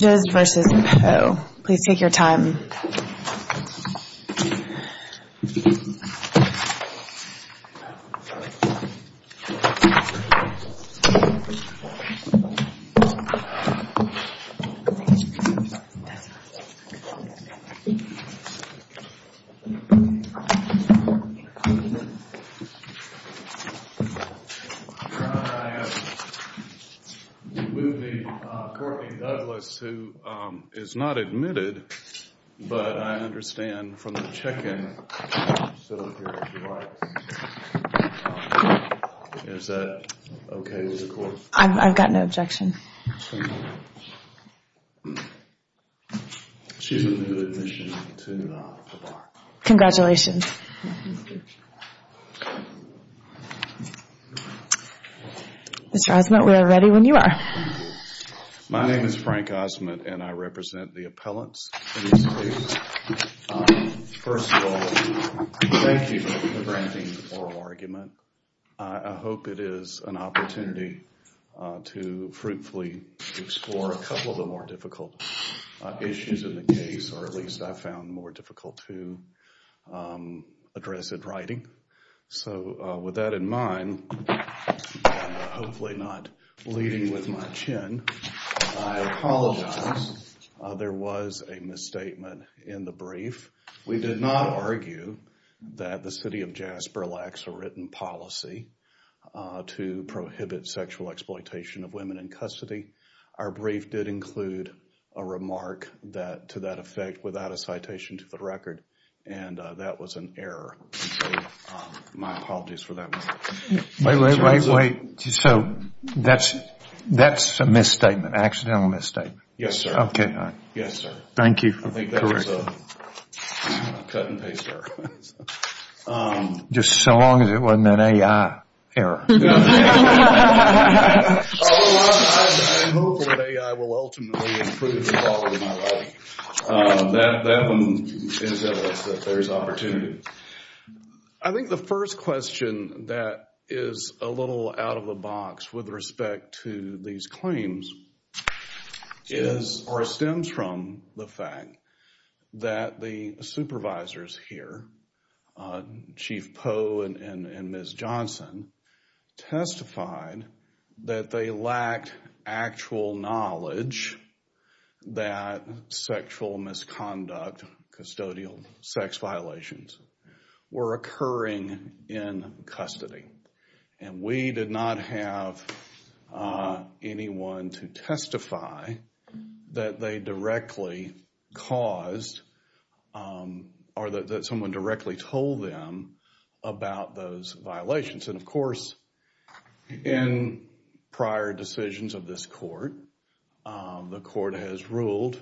Bridges v. Poe, please take your time. I have with me Courtney Douglas, who is not admitted, but I understand from the check-in, is that okay with the court? I've got no objection. She's admitted to the bar. Congratulations. Mr. Osment, we are ready when you are. My name is Frank Osment and I represent the appellants. First of all, thank you for granting the oral argument. I hope it is an opportunity to fruitfully explore a couple of the more difficult issues in the case, or at least I found more difficult to address in writing. So with that in mind, I apologize. There was a misstatement in the brief. We did not argue that the city of Jasper lacks a written policy to prohibit sexual exploitation of women in custody. Our brief did include a remark to that effect without a citation to the record, and that was an error. My apologies for that. Wait, wait, wait. So that's a misstatement, an accidental misstatement? Yes, sir. Okay. Yes, sir. Thank you for the correction. I think that's a cut-and-paste error. Just so long as it wasn't an A.I. error. Otherwise, I am hopeful that A.I. will ultimately improve the quality of my life. That one is evidence that there is opportunity. I think the first question that is a little out of the box with respect to these claims is, or stems from, the fact that the supervisors here, Chief Poe and Ms. Johnson, testified that they lacked actual knowledge that sexual misconduct, custodial sex violations, were occurring in custody. And we did not have anyone to testify that they directly caused or that someone directly told them about those violations. And, of course, in prior decisions of this court, the court has ruled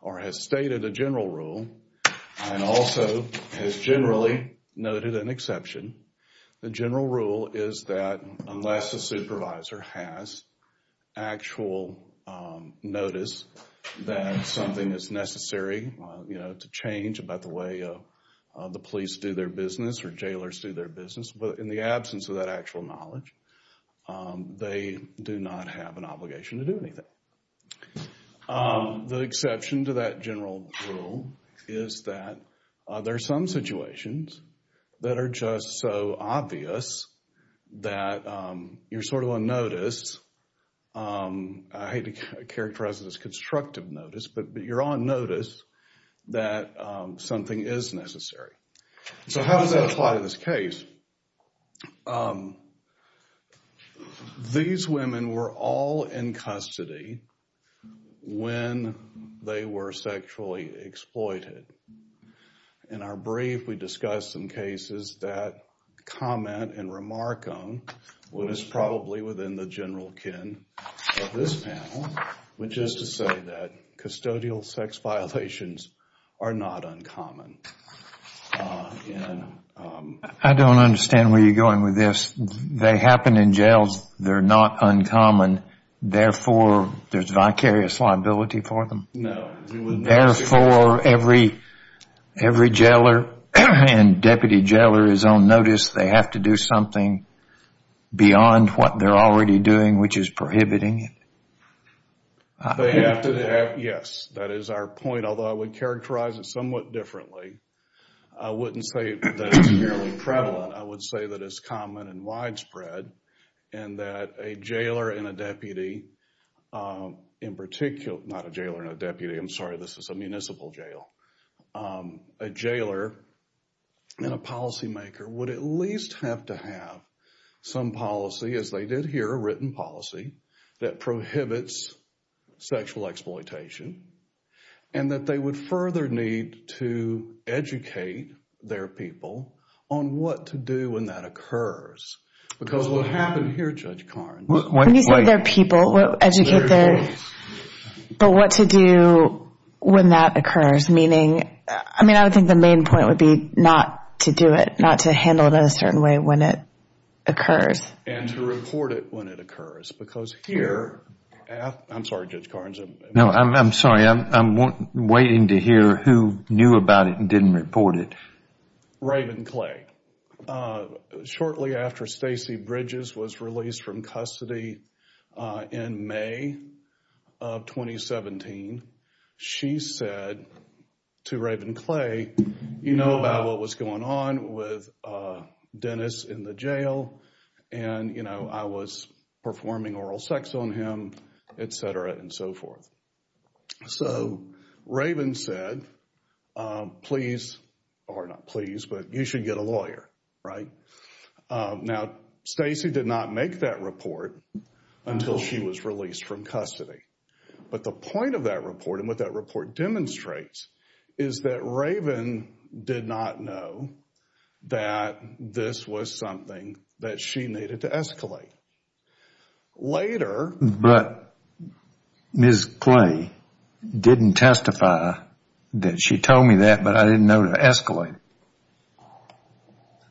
or has stated a general rule and also has generally noted an exception. The general rule is that unless the supervisor has actual notice that something is necessary, you know, to change about the way the police do their business or jailers do their business, in the absence of that actual knowledge, they do not have an obligation to do anything. The exception to that general rule is that there are some situations that are just so obvious that you're sort of unnoticed. I hate to characterize it as constructive notice, but you're unnoticed that something is necessary. So how does that apply to this case? These women were all in custody when they were sexually exploited. In our brief, we discussed some cases that comment and remark on what is probably within the general kin of this panel, which is to say that custodial sex violations are not uncommon. I don't understand where you're going with this. They happen in jails. They're not uncommon. Therefore, there's vicarious liability for them. No. Therefore, every jailer and deputy jailer is on notice. They have to do something beyond what they're already doing, which is prohibiting it. Yes. That is our point, although I would characterize it somewhat differently. I wouldn't say that it's fairly prevalent. I would say that it's common and widespread and that a jailer and a deputy in particular—not a jailer and a deputy. I'm sorry. This is a municipal jail. A jailer and a policymaker would at least have to have some policy, as they did here, a written policy, that prohibits sexual exploitation and that they would further need to educate their people on what to do when that occurs. Because what happened here, Judge Carnes— When you say their people, educate their— But what to do when that occurs, meaning—I mean, I would think the main point would be not to do it, not to handle it in a certain way when it occurs. And to report it when it occurs, because here—I'm sorry, Judge Carnes. No, I'm sorry. I'm waiting to hear who knew about it and didn't report it. Raven Clay. Shortly after Stacey Bridges was released from custody in May of 2017, she said to Raven Clay, you know about what was going on with Dennis in the jail and, you know, I was performing oral sex on him, etc. and so forth. So Raven said, please—or not please, but you should get a lawyer, right? Now, Stacey did not make that report until she was released from custody. But the point of that report and what that report demonstrates is that Raven did not know that this was something that she needed to escalate. Later— But Ms. Clay didn't testify that she told me that, but I didn't know to escalate it.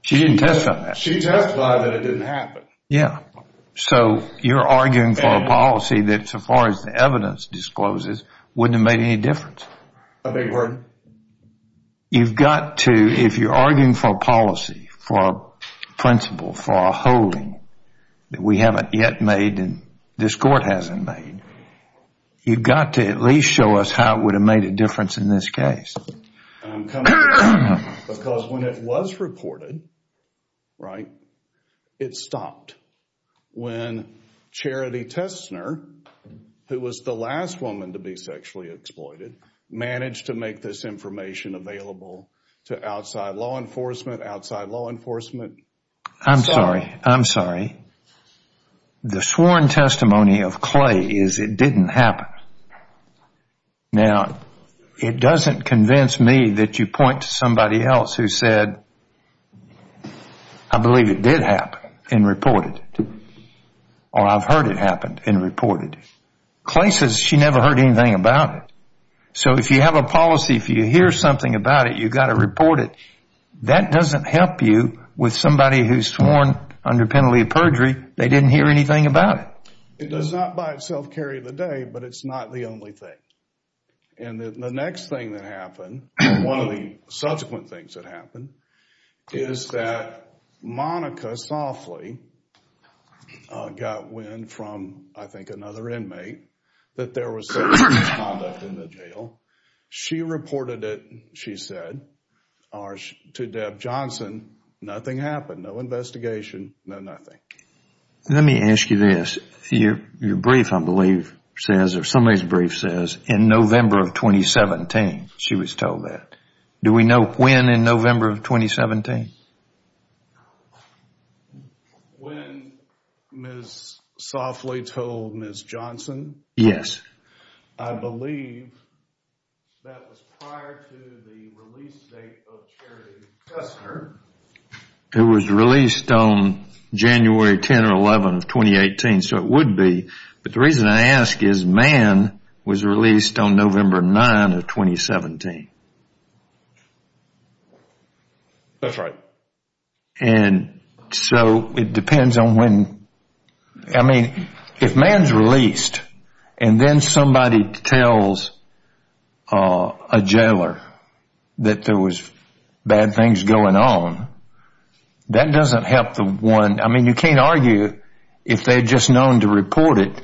She didn't testify that. She testified that it didn't happen. Yeah. So you're arguing for a policy that, so far as the evidence discloses, wouldn't have made any difference. I beg your pardon? You've got to, if you're arguing for a policy, for a principle, for a holding that we haven't yet made and this court hasn't made, you've got to at least show us how it would have made a difference in this case. Because when it was reported, right, it stopped. When Charity Tessner, who was the last woman to be sexually exploited, managed to make this information available to outside law enforcement, outside law enforcement— I'm sorry. I'm sorry. The sworn testimony of Clay is it didn't happen. Now, it doesn't convince me that you point to somebody else who said, I believe it did happen and reported, or I've heard it happen and reported. Clay says she never heard anything about it. So if you have a policy, if you hear something about it, you've got to report it. That doesn't help you with somebody who's sworn under penalty of perjury, they didn't hear anything about it. It does not by itself carry the day, but it's not the only thing. And the next thing that happened, one of the subsequent things that happened, is that Monica Softley got wind from, I think, another inmate that there was sexual misconduct in the jail. She reported it, she said, to Deb Johnson. Nothing happened. No investigation. No nothing. Let me ask you this. Your brief, I believe, says, or somebody's brief says, in November of 2017, she was told that. Do we know when in November of 2017? When Ms. Softley told Ms. Johnson? Yes. I believe that was prior to the release date of Charity Kessler. It was released on January 10 or 11 of 2018, so it would be. But the reason I ask is Mann was released on November 9 of 2017. That's right. And so it depends on when. I mean, if Mann's released, and then somebody tells a jailer that there was bad things going on, that doesn't help the one. I mean, you can't argue, if they had just known to report it,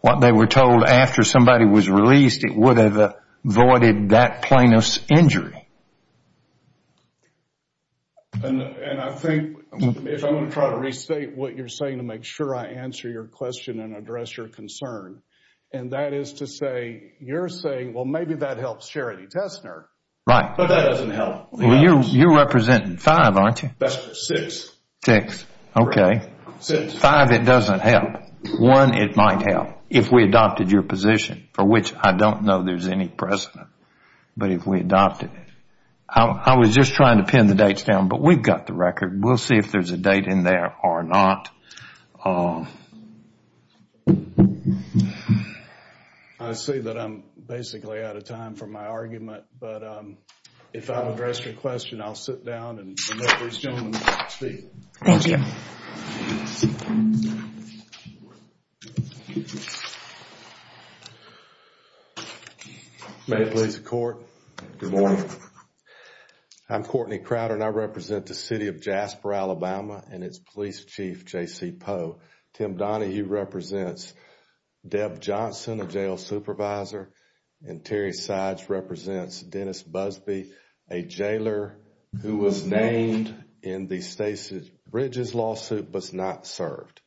what they were told after somebody was released, it would have avoided that plaintiff's injury. And I think, if I'm going to try to restate what you're saying to make sure I answer your question and address your concern, and that is to say, you're saying, well, maybe that helps Charity Kessler. Right. But that doesn't help. Well, you're representing five, aren't you? Six. Six. Okay. Five, it doesn't help. One, it might help, if we adopted your position, for which I don't know there's any precedent. But if we adopted it. I was just trying to pin the dates down, but we've got the record. We'll see if there's a date in there or not. I see that I'm basically out of time for my argument, but if I don't address your question, I'll sit down and let these gentlemen speak. Thank you. Thank you. May it please the Court. Good morning. I'm Courtney Crowder, and I represent the City of Jasper, Alabama, and its Police Chief, J.C. Poe. Tim Donahue represents Deb Johnson, a jail supervisor, and Terry Sides represents Dennis Busby, a jailer who was named in the Stacey Bridges lawsuit but was not served.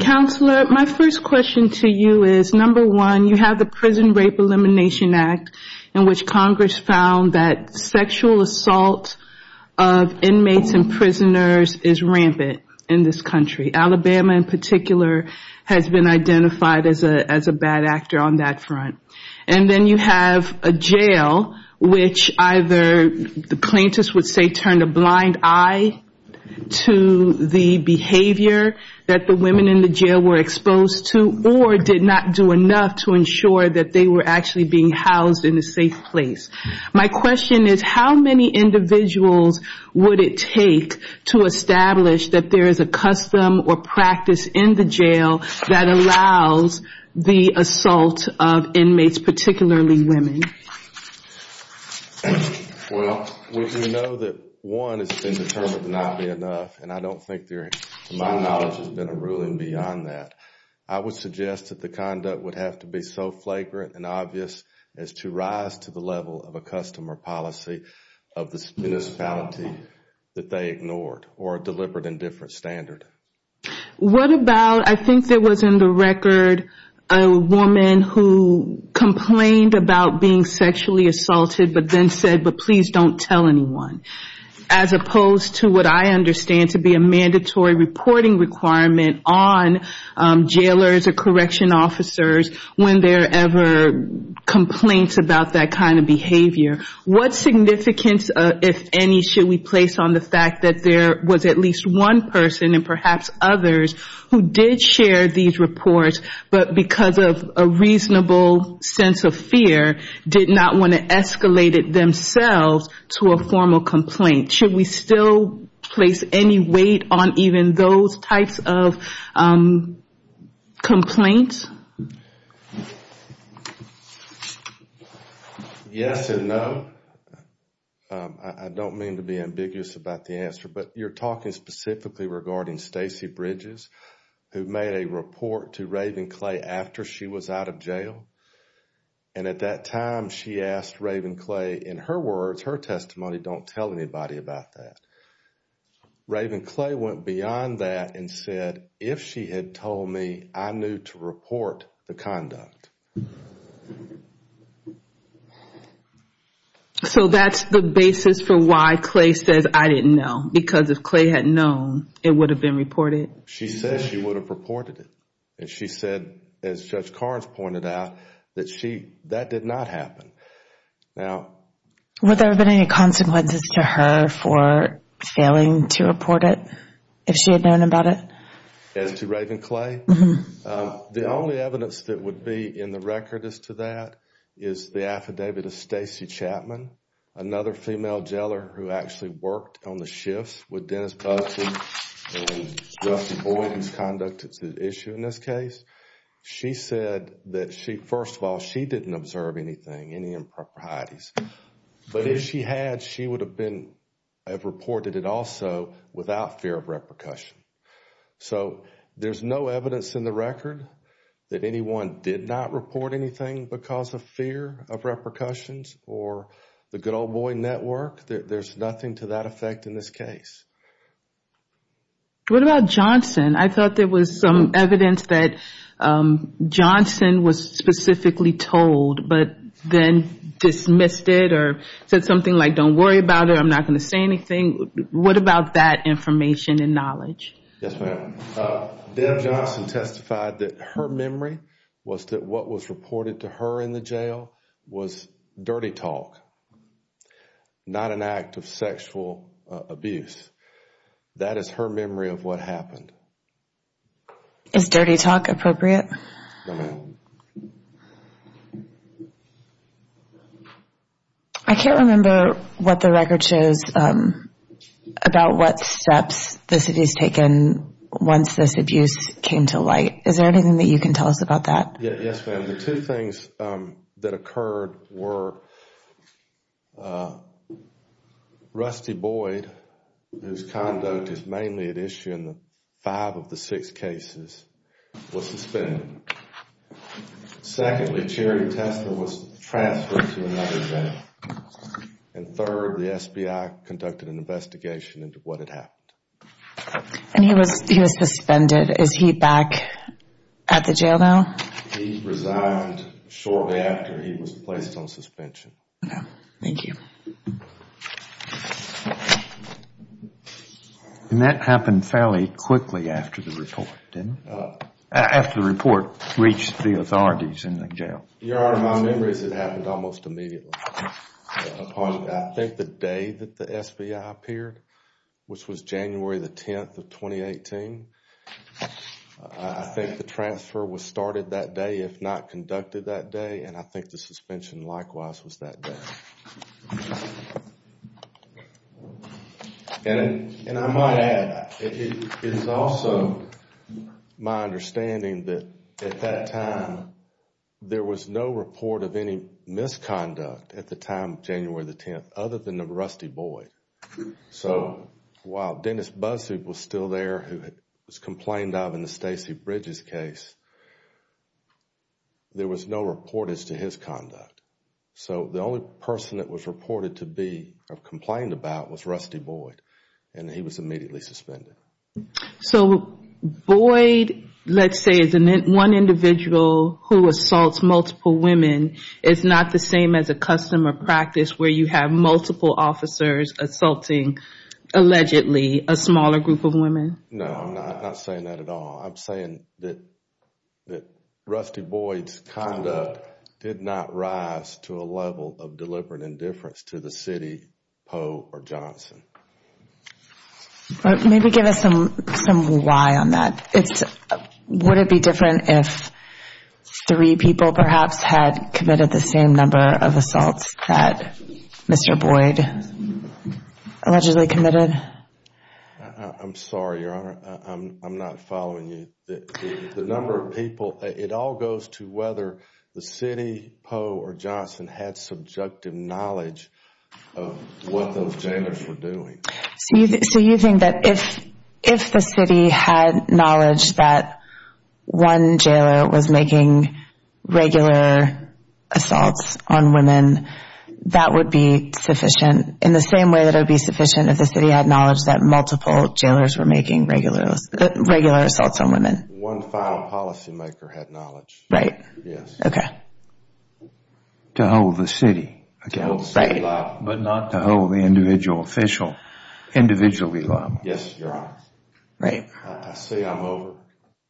Counselor, my first question to you is, number one, you have the Prison Rape Elimination Act, in which Congress found that sexual assault of inmates and prisoners is rampant in this country. Alabama, in particular, has been identified as a bad actor on that front. And then you have a jail, which either the plaintiffs would say turned a blind eye to the behavior that the women in the jail were exposed to, or did not do enough to ensure that they were actually being housed in a safe place. My question is, how many individuals would it take to establish that there is a custom or practice in the jail that allows the assault of inmates, particularly women? Well, we know that one has been determined to not be enough, and I don't think there, to my knowledge, has been a ruling beyond that. I would suggest that the conduct would have to be so flagrant and obvious as to rise to the level of a custom or policy of this municipality that they ignored or delivered a different standard. What about, I think there was in the record a woman who complained about being sexually assaulted, but then said, but please don't tell anyone. As opposed to what I understand to be a mandatory reporting requirement on jailers or correction officers when there are ever complaints about that kind of behavior. What significance, if any, should we place on the fact that there was at least one person and perhaps others who did share these reports, but because of a reasonable sense of fear, did not want to escalate it themselves to a formal complaint? Should we still place any weight on even those types of complaints? Yes and no. I don't mean to be ambiguous about the answer, but you're talking specifically regarding Stacy Bridges, who made a report to Ravenclay after she was out of jail. And at that time she asked Ravenclay, in her words, her testimony, don't tell anybody about that. Ravenclay went beyond that and said, if she had told me, I knew to report the conduct. So that's the basis for why Clay says, I didn't know. Because if Clay had known, it would have been reported. She says she would have reported it. And she said, as Judge Carnes pointed out, that that did not happen. Would there have been any consequences to her for failing to report it, if she had known about it? As to Ravenclay? The only evidence that would be in the record as to that is the affidavit of Stacy Chapman, another female jailer who actually worked on the shifts with Dennis Bussey and Justin Boyden's conduct at the issue in this case. She said that she, first of all, she didn't observe anything, any improprieties. But if she had, she would have been, have reported it also without fear of repercussion. So there's no evidence in the record that anyone did not report anything because of fear of repercussions or the good old boy network. There's nothing to that effect in this case. What about Johnson? I thought there was some evidence that Johnson was specifically told but then dismissed it or said something like, don't worry about it, I'm not going to say anything. What about that information and knowledge? Yes, ma'am. Deb Johnson testified that her memory was that what was reported to her in the jail was dirty talk, not an act of sexual abuse. That is her memory of what happened. Is dirty talk appropriate? No, ma'am. I can't remember what the record says about what steps this has taken once this abuse came to light. Is there anything that you can tell us about that? Yes, ma'am. The two things that occurred were Rusty Boyd, whose conduct is mainly at issue in the five of the six cases, was suspended. Secondly, Jerry Tesler was transferred to another jail. And third, the SBI conducted an investigation into what had happened. And he was suspended. Is he back at the jail now? He resigned shortly after he was placed on suspension. Thank you. And that happened fairly quickly after the report, didn't it? After the report reached the authorities in the jail. Your Honor, my memory is it happened almost immediately. I think the day that the SBI appeared, which was January the 10th of 2018, I think the transfer was started that day, if not conducted that day, and I think the suspension likewise was that day. And I might add, it is also my understanding that at that time, there was no report of any misconduct at the time, January the 10th, other than of Rusty Boyd. So while Dennis Buzzard was still there, who was complained of in the Stacey Bridges case, there was no report as to his conduct. So the only person that was reported to be complained about was Rusty Boyd, and he was immediately suspended. So Boyd, let's say, is one individual who assaults multiple women, is not the same as a custom or practice where you have multiple officers assaulting, allegedly, a smaller group of women? No, I'm not saying that at all. I'm saying that Rusty Boyd's conduct did not rise to a level of deliberate indifference to the city, Poe, or Johnson. Maybe give us some why on that. Would it be different if three people perhaps had committed the same number of assaults that Mr. Boyd allegedly committed? I'm sorry, Your Honor, I'm not following you. The number of people, it all goes to whether the city, Poe, or Johnson, had subjective knowledge of what those jailers were doing. So you think that if the city had knowledge that one jailer was making regular assaults on women, that would be sufficient, in the same way that it would be sufficient if the city had knowledge that multiple jailers were making regular assaults on women? One file policymaker had knowledge. Right. Yes. Okay. To hold the city. To hold city life. Right. But not to hold the individual, official, individually loved. Yes, Your Honor. Right. I say I'm over.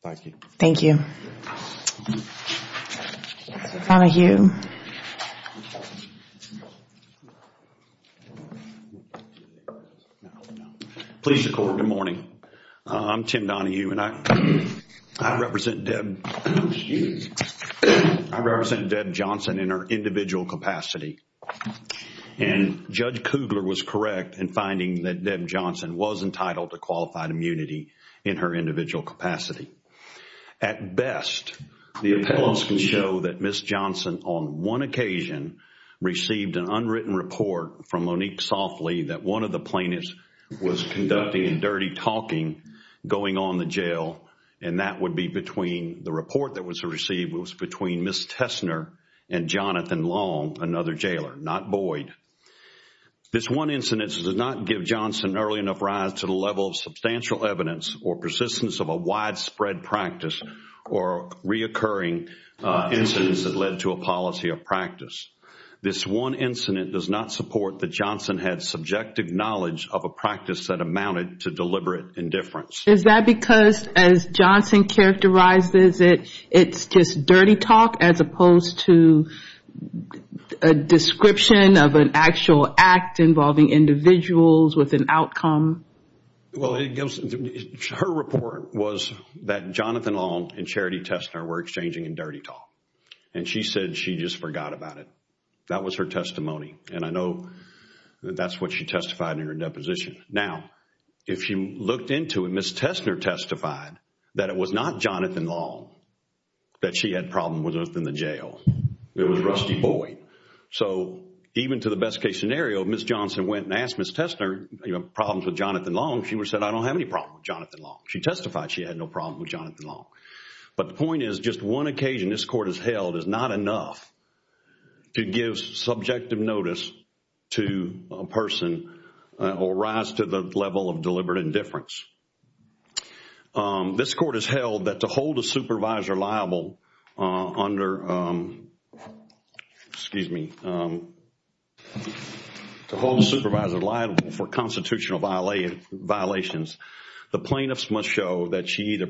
Thank you. Thank you. Donahue. Please record. Good morning. I'm Tim Donahue, and I represent Deb Johnson in her individual capacity. And Judge Kugler was correct in finding that Deb Johnson was entitled to qualified immunity in her individual capacity. At best, the appellants can show that Ms. Johnson, on one occasion, received an unwritten report from Monique Softley that one of the plaintiffs was conducting a dirty talking going on in the jail, and that would be between the report that was received, it was between Ms. Tessner and Jonathan Long, another jailer, not Boyd. This one incident does not give Johnson early enough rise to the level of substantial evidence or persistence of a widespread practice or reoccurring incidents that led to a policy of practice. This one incident does not support that Johnson had subjective knowledge of a practice that amounted to deliberate indifference. Is that because, as Johnson characterizes it, it's just dirty talk as opposed to a description of an actual act involving individuals with an outcome? Well, her report was that Jonathan Long and Charity Tessner were exchanging in dirty talk, and she said she just forgot about it. That was her testimony, and I know that's what she testified in her deposition. Now, if you looked into it, Ms. Tessner testified that it was not Jonathan Long that she had problems with in the jail. It was Rusty Boyd. So even to the best case scenario, Ms. Johnson went and asked Ms. Tessner, you know, problems with Jonathan Long. She said, I don't have any problems with Jonathan Long. She testified she had no problems with Jonathan Long. But the point is just one occasion this Court has held is not enough to give subjective notice to a person or rise to the level of deliberate indifference. This Court has held that to hold a supervisor liable for constitutional violations, the plaintiffs must show that she either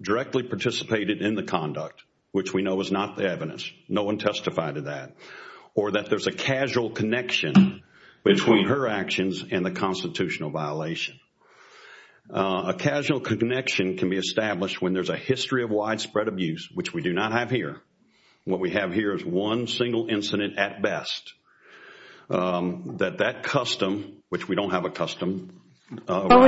directly participated in the conduct, which no one testified to that, or that there's a casual connection between her actions and the constitutional violation. A casual connection can be established when there's a history of widespread abuse, which we do not have here. What we have here is one single incident at best. That that custom, which we don't have a custom. We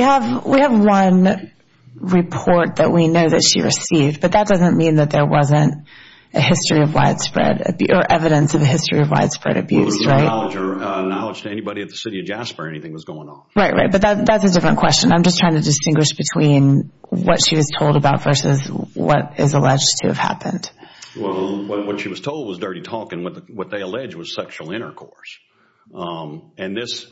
have one report that we know that she received, but that doesn't mean that there wasn't a history of widespread, or evidence of a history of widespread abuse, right? There was no knowledge to anybody at the City of Jasper anything was going on. Right, right. But that's a different question. I'm just trying to distinguish between what she was told about versus what is alleged to have happened. Well, what she was told was dirty talking. What they allege was sexual intercourse. And this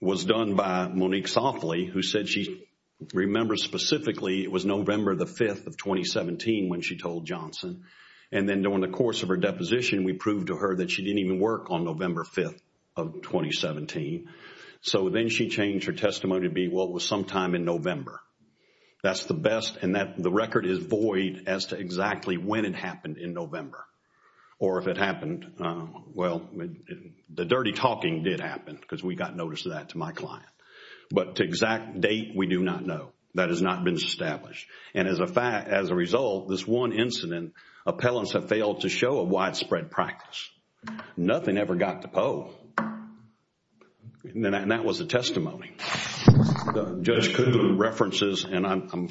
was done by Monique Softley, who said she remembers specifically it was November the 5th of 2017 when she told Johnson. And then during the course of her deposition, we proved to her that she didn't even work on November 5th of 2017. So then she changed her testimony to be, well, it was sometime in November. That's the best, and the record is void as to exactly when it happened in November. Or if it happened, well, the dirty talking did happen, because we got notice of that to my client. But the exact date, we do not know. That has not been established. And as a result, this one incident, appellants have failed to show a widespread practice. Nothing ever got to POE. And that was the testimony. Judge Kuhn references, and I'm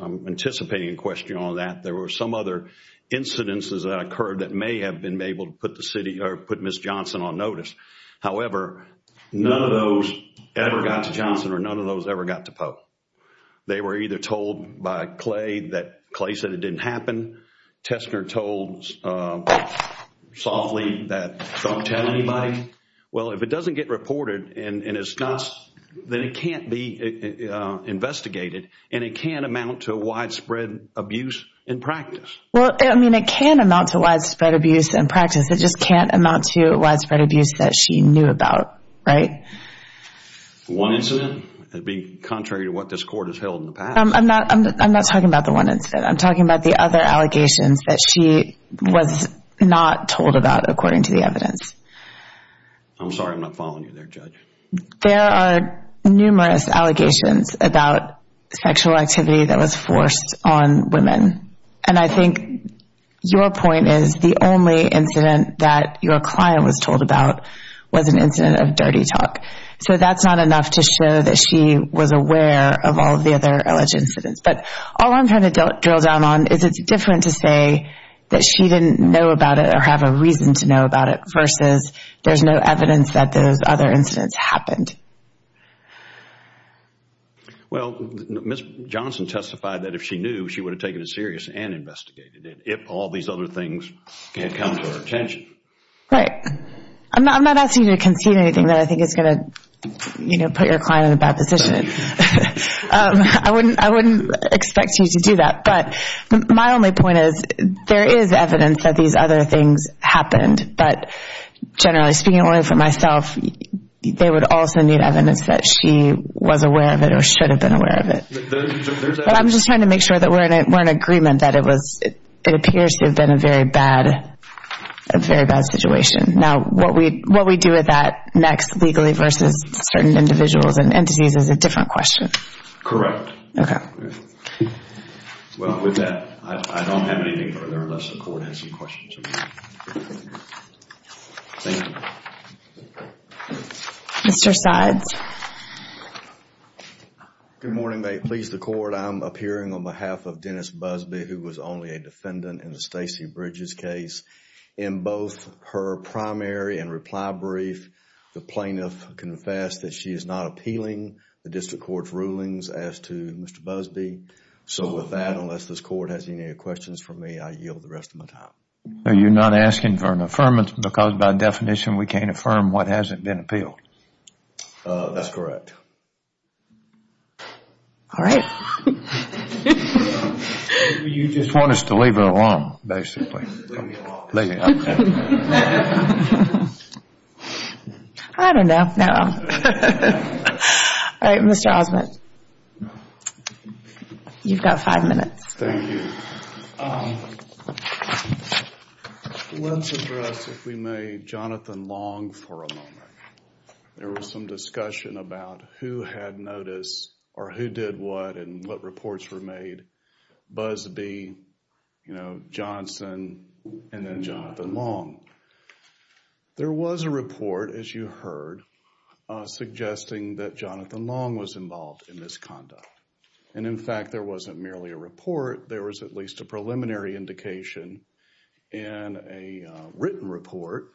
anticipating a question on that, there were some other incidences that occurred that may have been able to put Ms. Johnson on notice. However, none of those ever got to Johnson or none of those ever got to POE. They were either told by Clay that Clay said it didn't happen. Tessner told Softly that don't tell anybody. Well, if it doesn't get reported and it's not, then it can't be investigated, and it can't amount to widespread abuse in practice. Well, I mean, it can amount to widespread abuse in practice. It just can't amount to widespread abuse that she knew about, right? One incident, being contrary to what this court has held in the past. I'm not talking about the one incident. I'm talking about the other allegations that she was not told about, according to the evidence. I'm sorry I'm not following you there, Judge. There are numerous allegations about sexual activity that was forced on women. And I think your point is the only incident that your client was told about was an incident of dirty talk. So that's not enough to show that she was aware of all the other alleged incidents. But all I'm trying to drill down on is it's different to say that she didn't know about it or have a reason to know about it, versus there's no evidence that those other incidents happened. Well, Ms. Johnson testified that if she knew, she would have taken it serious and investigated it if all these other things had come to her attention. Right. I'm not asking you to concede anything that I think is going to, you know, put your client in a bad position. I wouldn't expect you to do that. But my only point is there is evidence that these other things happened. But generally speaking only for myself, they would also need evidence that she was aware of it or should have been aware of it. I'm just trying to make sure that we're in agreement that it appears to have been a very bad situation. Now, what we do with that next legally versus certain individuals and entities is a different question. Correct. Okay. Well, with that, I don't have anything further unless the Court has any questions. Thank you. Mr. Sides. Good morning. May it please the Court, I'm appearing on behalf of Dennis Busby who was only a defendant in the Stacey Bridges case. In both her primary and reply brief, the plaintiff confessed that she is not appealing the District Court's rulings as to Mr. Busby. So with that, unless this Court has any questions for me, I yield the rest of my time. So you're not asking for an affirmation because by definition we can't affirm what hasn't been appealed? That's correct. All right. You just want us to leave it alone, basically. Leave me alone. Leave me alone. I don't know. All right, Mr. Osmond. You've got five minutes. Thank you. Let's address, if we may, Jonathan Long for a moment. There was some discussion about who had notice or who did what and what reports were made. Busby, you know, Johnson, and then Jonathan Long. There was a report, as you heard, suggesting that Jonathan Long was involved in this conduct. And, in fact, there wasn't merely a report. There was at least a preliminary indication and a written report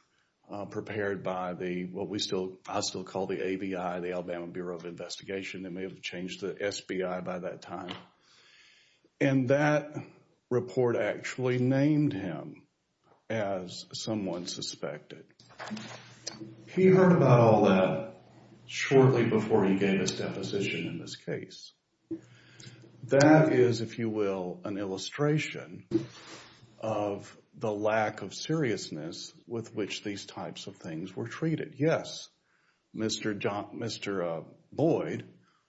prepared by what I still call the ABI, the Alabama Bureau of Investigation. They may have changed to SBI by that time. And that report actually named him as someone suspected. He heard about all that shortly before he gave his deposition in this case. That is, if you will, an illustration of the lack of seriousness with which these types of things were treated. Yes, Mr. Boyd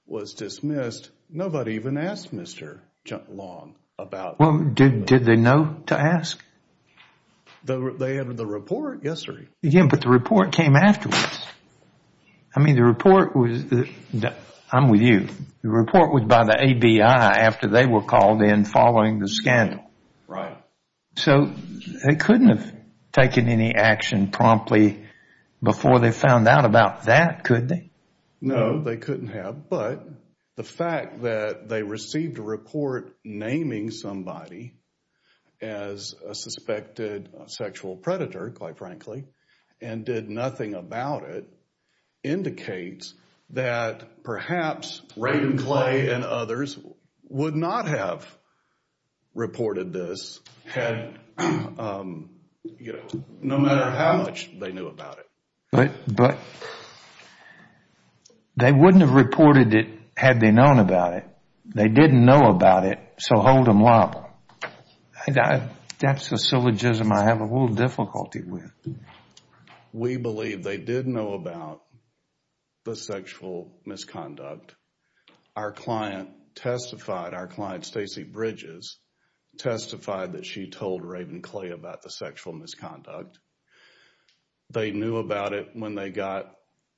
was dismissed. Nobody even asked Mr. Long about that. Did they know to ask? They entered the report yesterday. Yes, but the report came afterwards. I mean, the report was, I'm with you, the report was by the ABI after they were called in following the scandal. Right. So they couldn't have taken any action promptly before they found out about that, could they? No, they couldn't have. But the fact that they received a report naming somebody as a suspected sexual predator, quite frankly, and did nothing about it indicates that perhaps Raymond Clay and others would not have reported this had, you know, no matter how much they knew about it. But they wouldn't have reported it had they known about it. They didn't know about it, so hold them liable. That's a syllogism I have a little difficulty with. We believe they did know about the sexual misconduct. Our client testified, our client, Stacy Bridges, testified that she told Raymond Clay about the sexual misconduct. They knew about it when they got,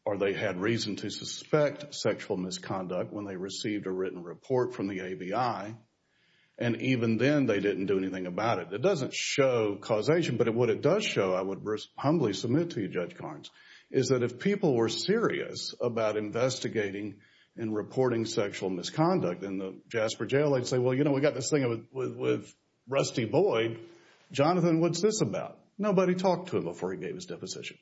or they had reason to suspect sexual misconduct when they received a written report from the ABI, and even then they didn't do anything about it. It doesn't show causation, but what it does show, I would humbly submit to you, Judge Carnes, is that if people were serious about investigating and reporting sexual misconduct in the Jasper Jail, they'd say, well, you know, we got this thing with Rusty Boyd. Jonathan, what's this about? Nobody talked to him before he gave his deposition.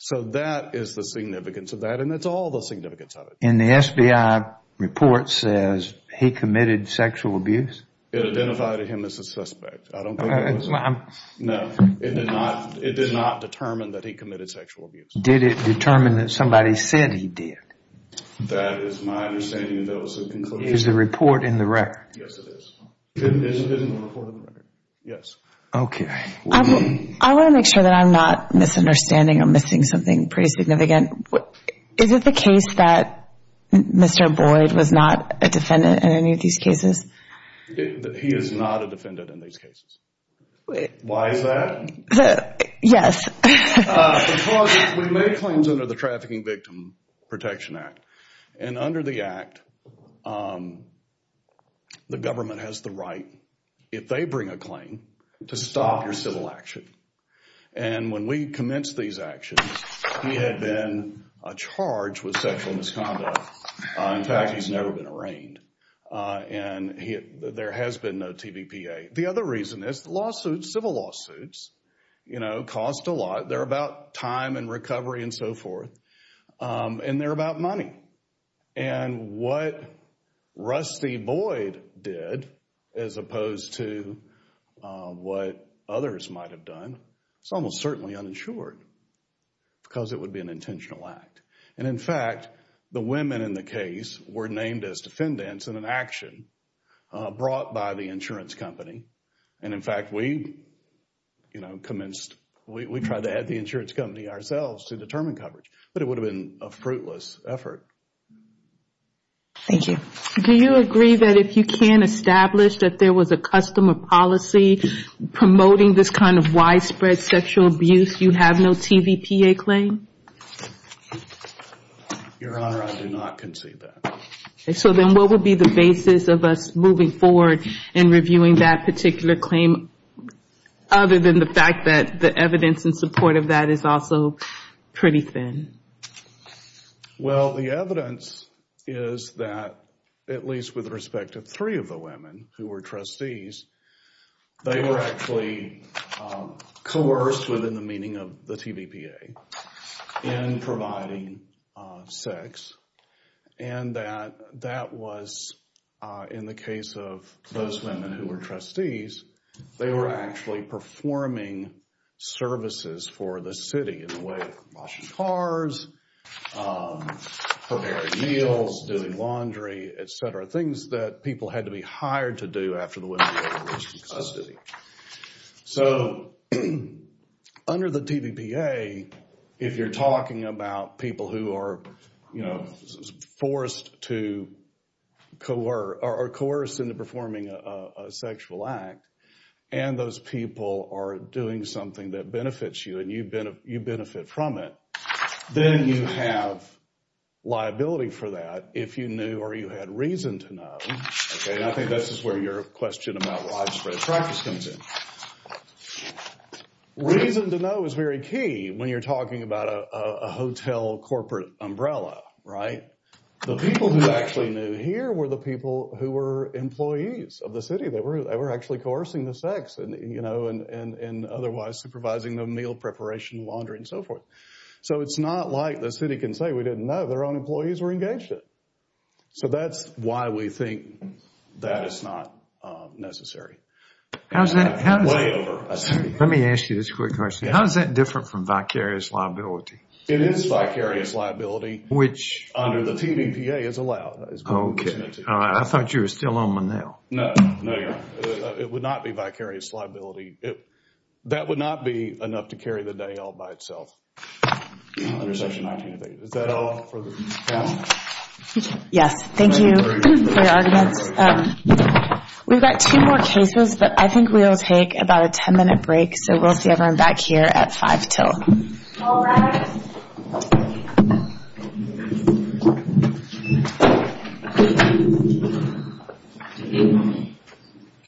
So that is the significance of that, and that's all the significance of it. And the SBI report says he committed sexual abuse? It identified him as a suspect. I don't think it was. No, it did not determine that he committed sexual abuse. Did it determine that somebody said he did? That is my understanding of those conclusions. Is the report in the record? Yes, it is. Is it in the report in the record? Yes. Okay. I want to make sure that I'm not misunderstanding or missing something pretty significant. Is it the case that Mr. Boyd was not a defendant in any of these cases? He is not a defendant in these cases. Why is that? Yes. Because we made claims under the Trafficking Victim Protection Act, and under the act, the government has the right, if they bring a claim, to stop your civil action. And when we commenced these actions, he had been charged with sexual misconduct. In fact, he's never been arraigned. And there has been no TVPA. The other reason is lawsuits, civil lawsuits, cost a lot. They're about time and recovery and so forth, and they're about money. And what Rusty Boyd did, as opposed to what others might have done, it's almost certainly uninsured because it would be an intentional act. And, in fact, the women in the case were named as defendants in an action brought by the insurance company. And, in fact, we commenced, we tried to add the insurance company ourselves to determine coverage. But it would have been a fruitless effort. Thank you. Do you agree that if you can establish that there was a customer policy promoting this kind of widespread sexual abuse, you have no TVPA claim? Your Honor, I do not concede that. So then what would be the basis of us moving forward and reviewing that particular claim, other than the fact that the evidence in support of that is also pretty thin? Well, the evidence is that, at least with respect to three of the women who were trustees, they were actually coerced, within the meaning of the TVPA, in providing sex, and that that was, in the case of those women who were trustees, they were actually performing services for the city in the way of washing cars, preparing meals, doing laundry, etc., things that people had to be hired to do after the women were released from custody. So, under the TVPA, if you're talking about people who are, you know, forced to coerce, or coerced into performing a sexual act, and those people are doing something that benefits you, and you benefit from it, then you have liability for that if you knew or you had reason to know, and I think this is where your question about widespread attractiveness comes in. Reason to know is very key when you're talking about a hotel corporate umbrella, right? The people who actually knew here were the people who were employees of the city. They were actually coercing the sex, you know, and otherwise supervising the meal preparation, laundry, and so forth. So it's not like the city can say, we didn't know, their own employees were engaged in it. So that's why we think that is not necessary. Let me ask you this quick question. How is that different from vicarious liability? It is vicarious liability, which under the TVPA is allowed. I thought you were still on one now. It would not be vicarious liability. That would not be enough to carry the day all by itself. Is that all for the panel? Yes, thank you for your arguments. We've got two more cases, but I think we'll take about a 10-minute break, so we'll see everyone back here at 5 till.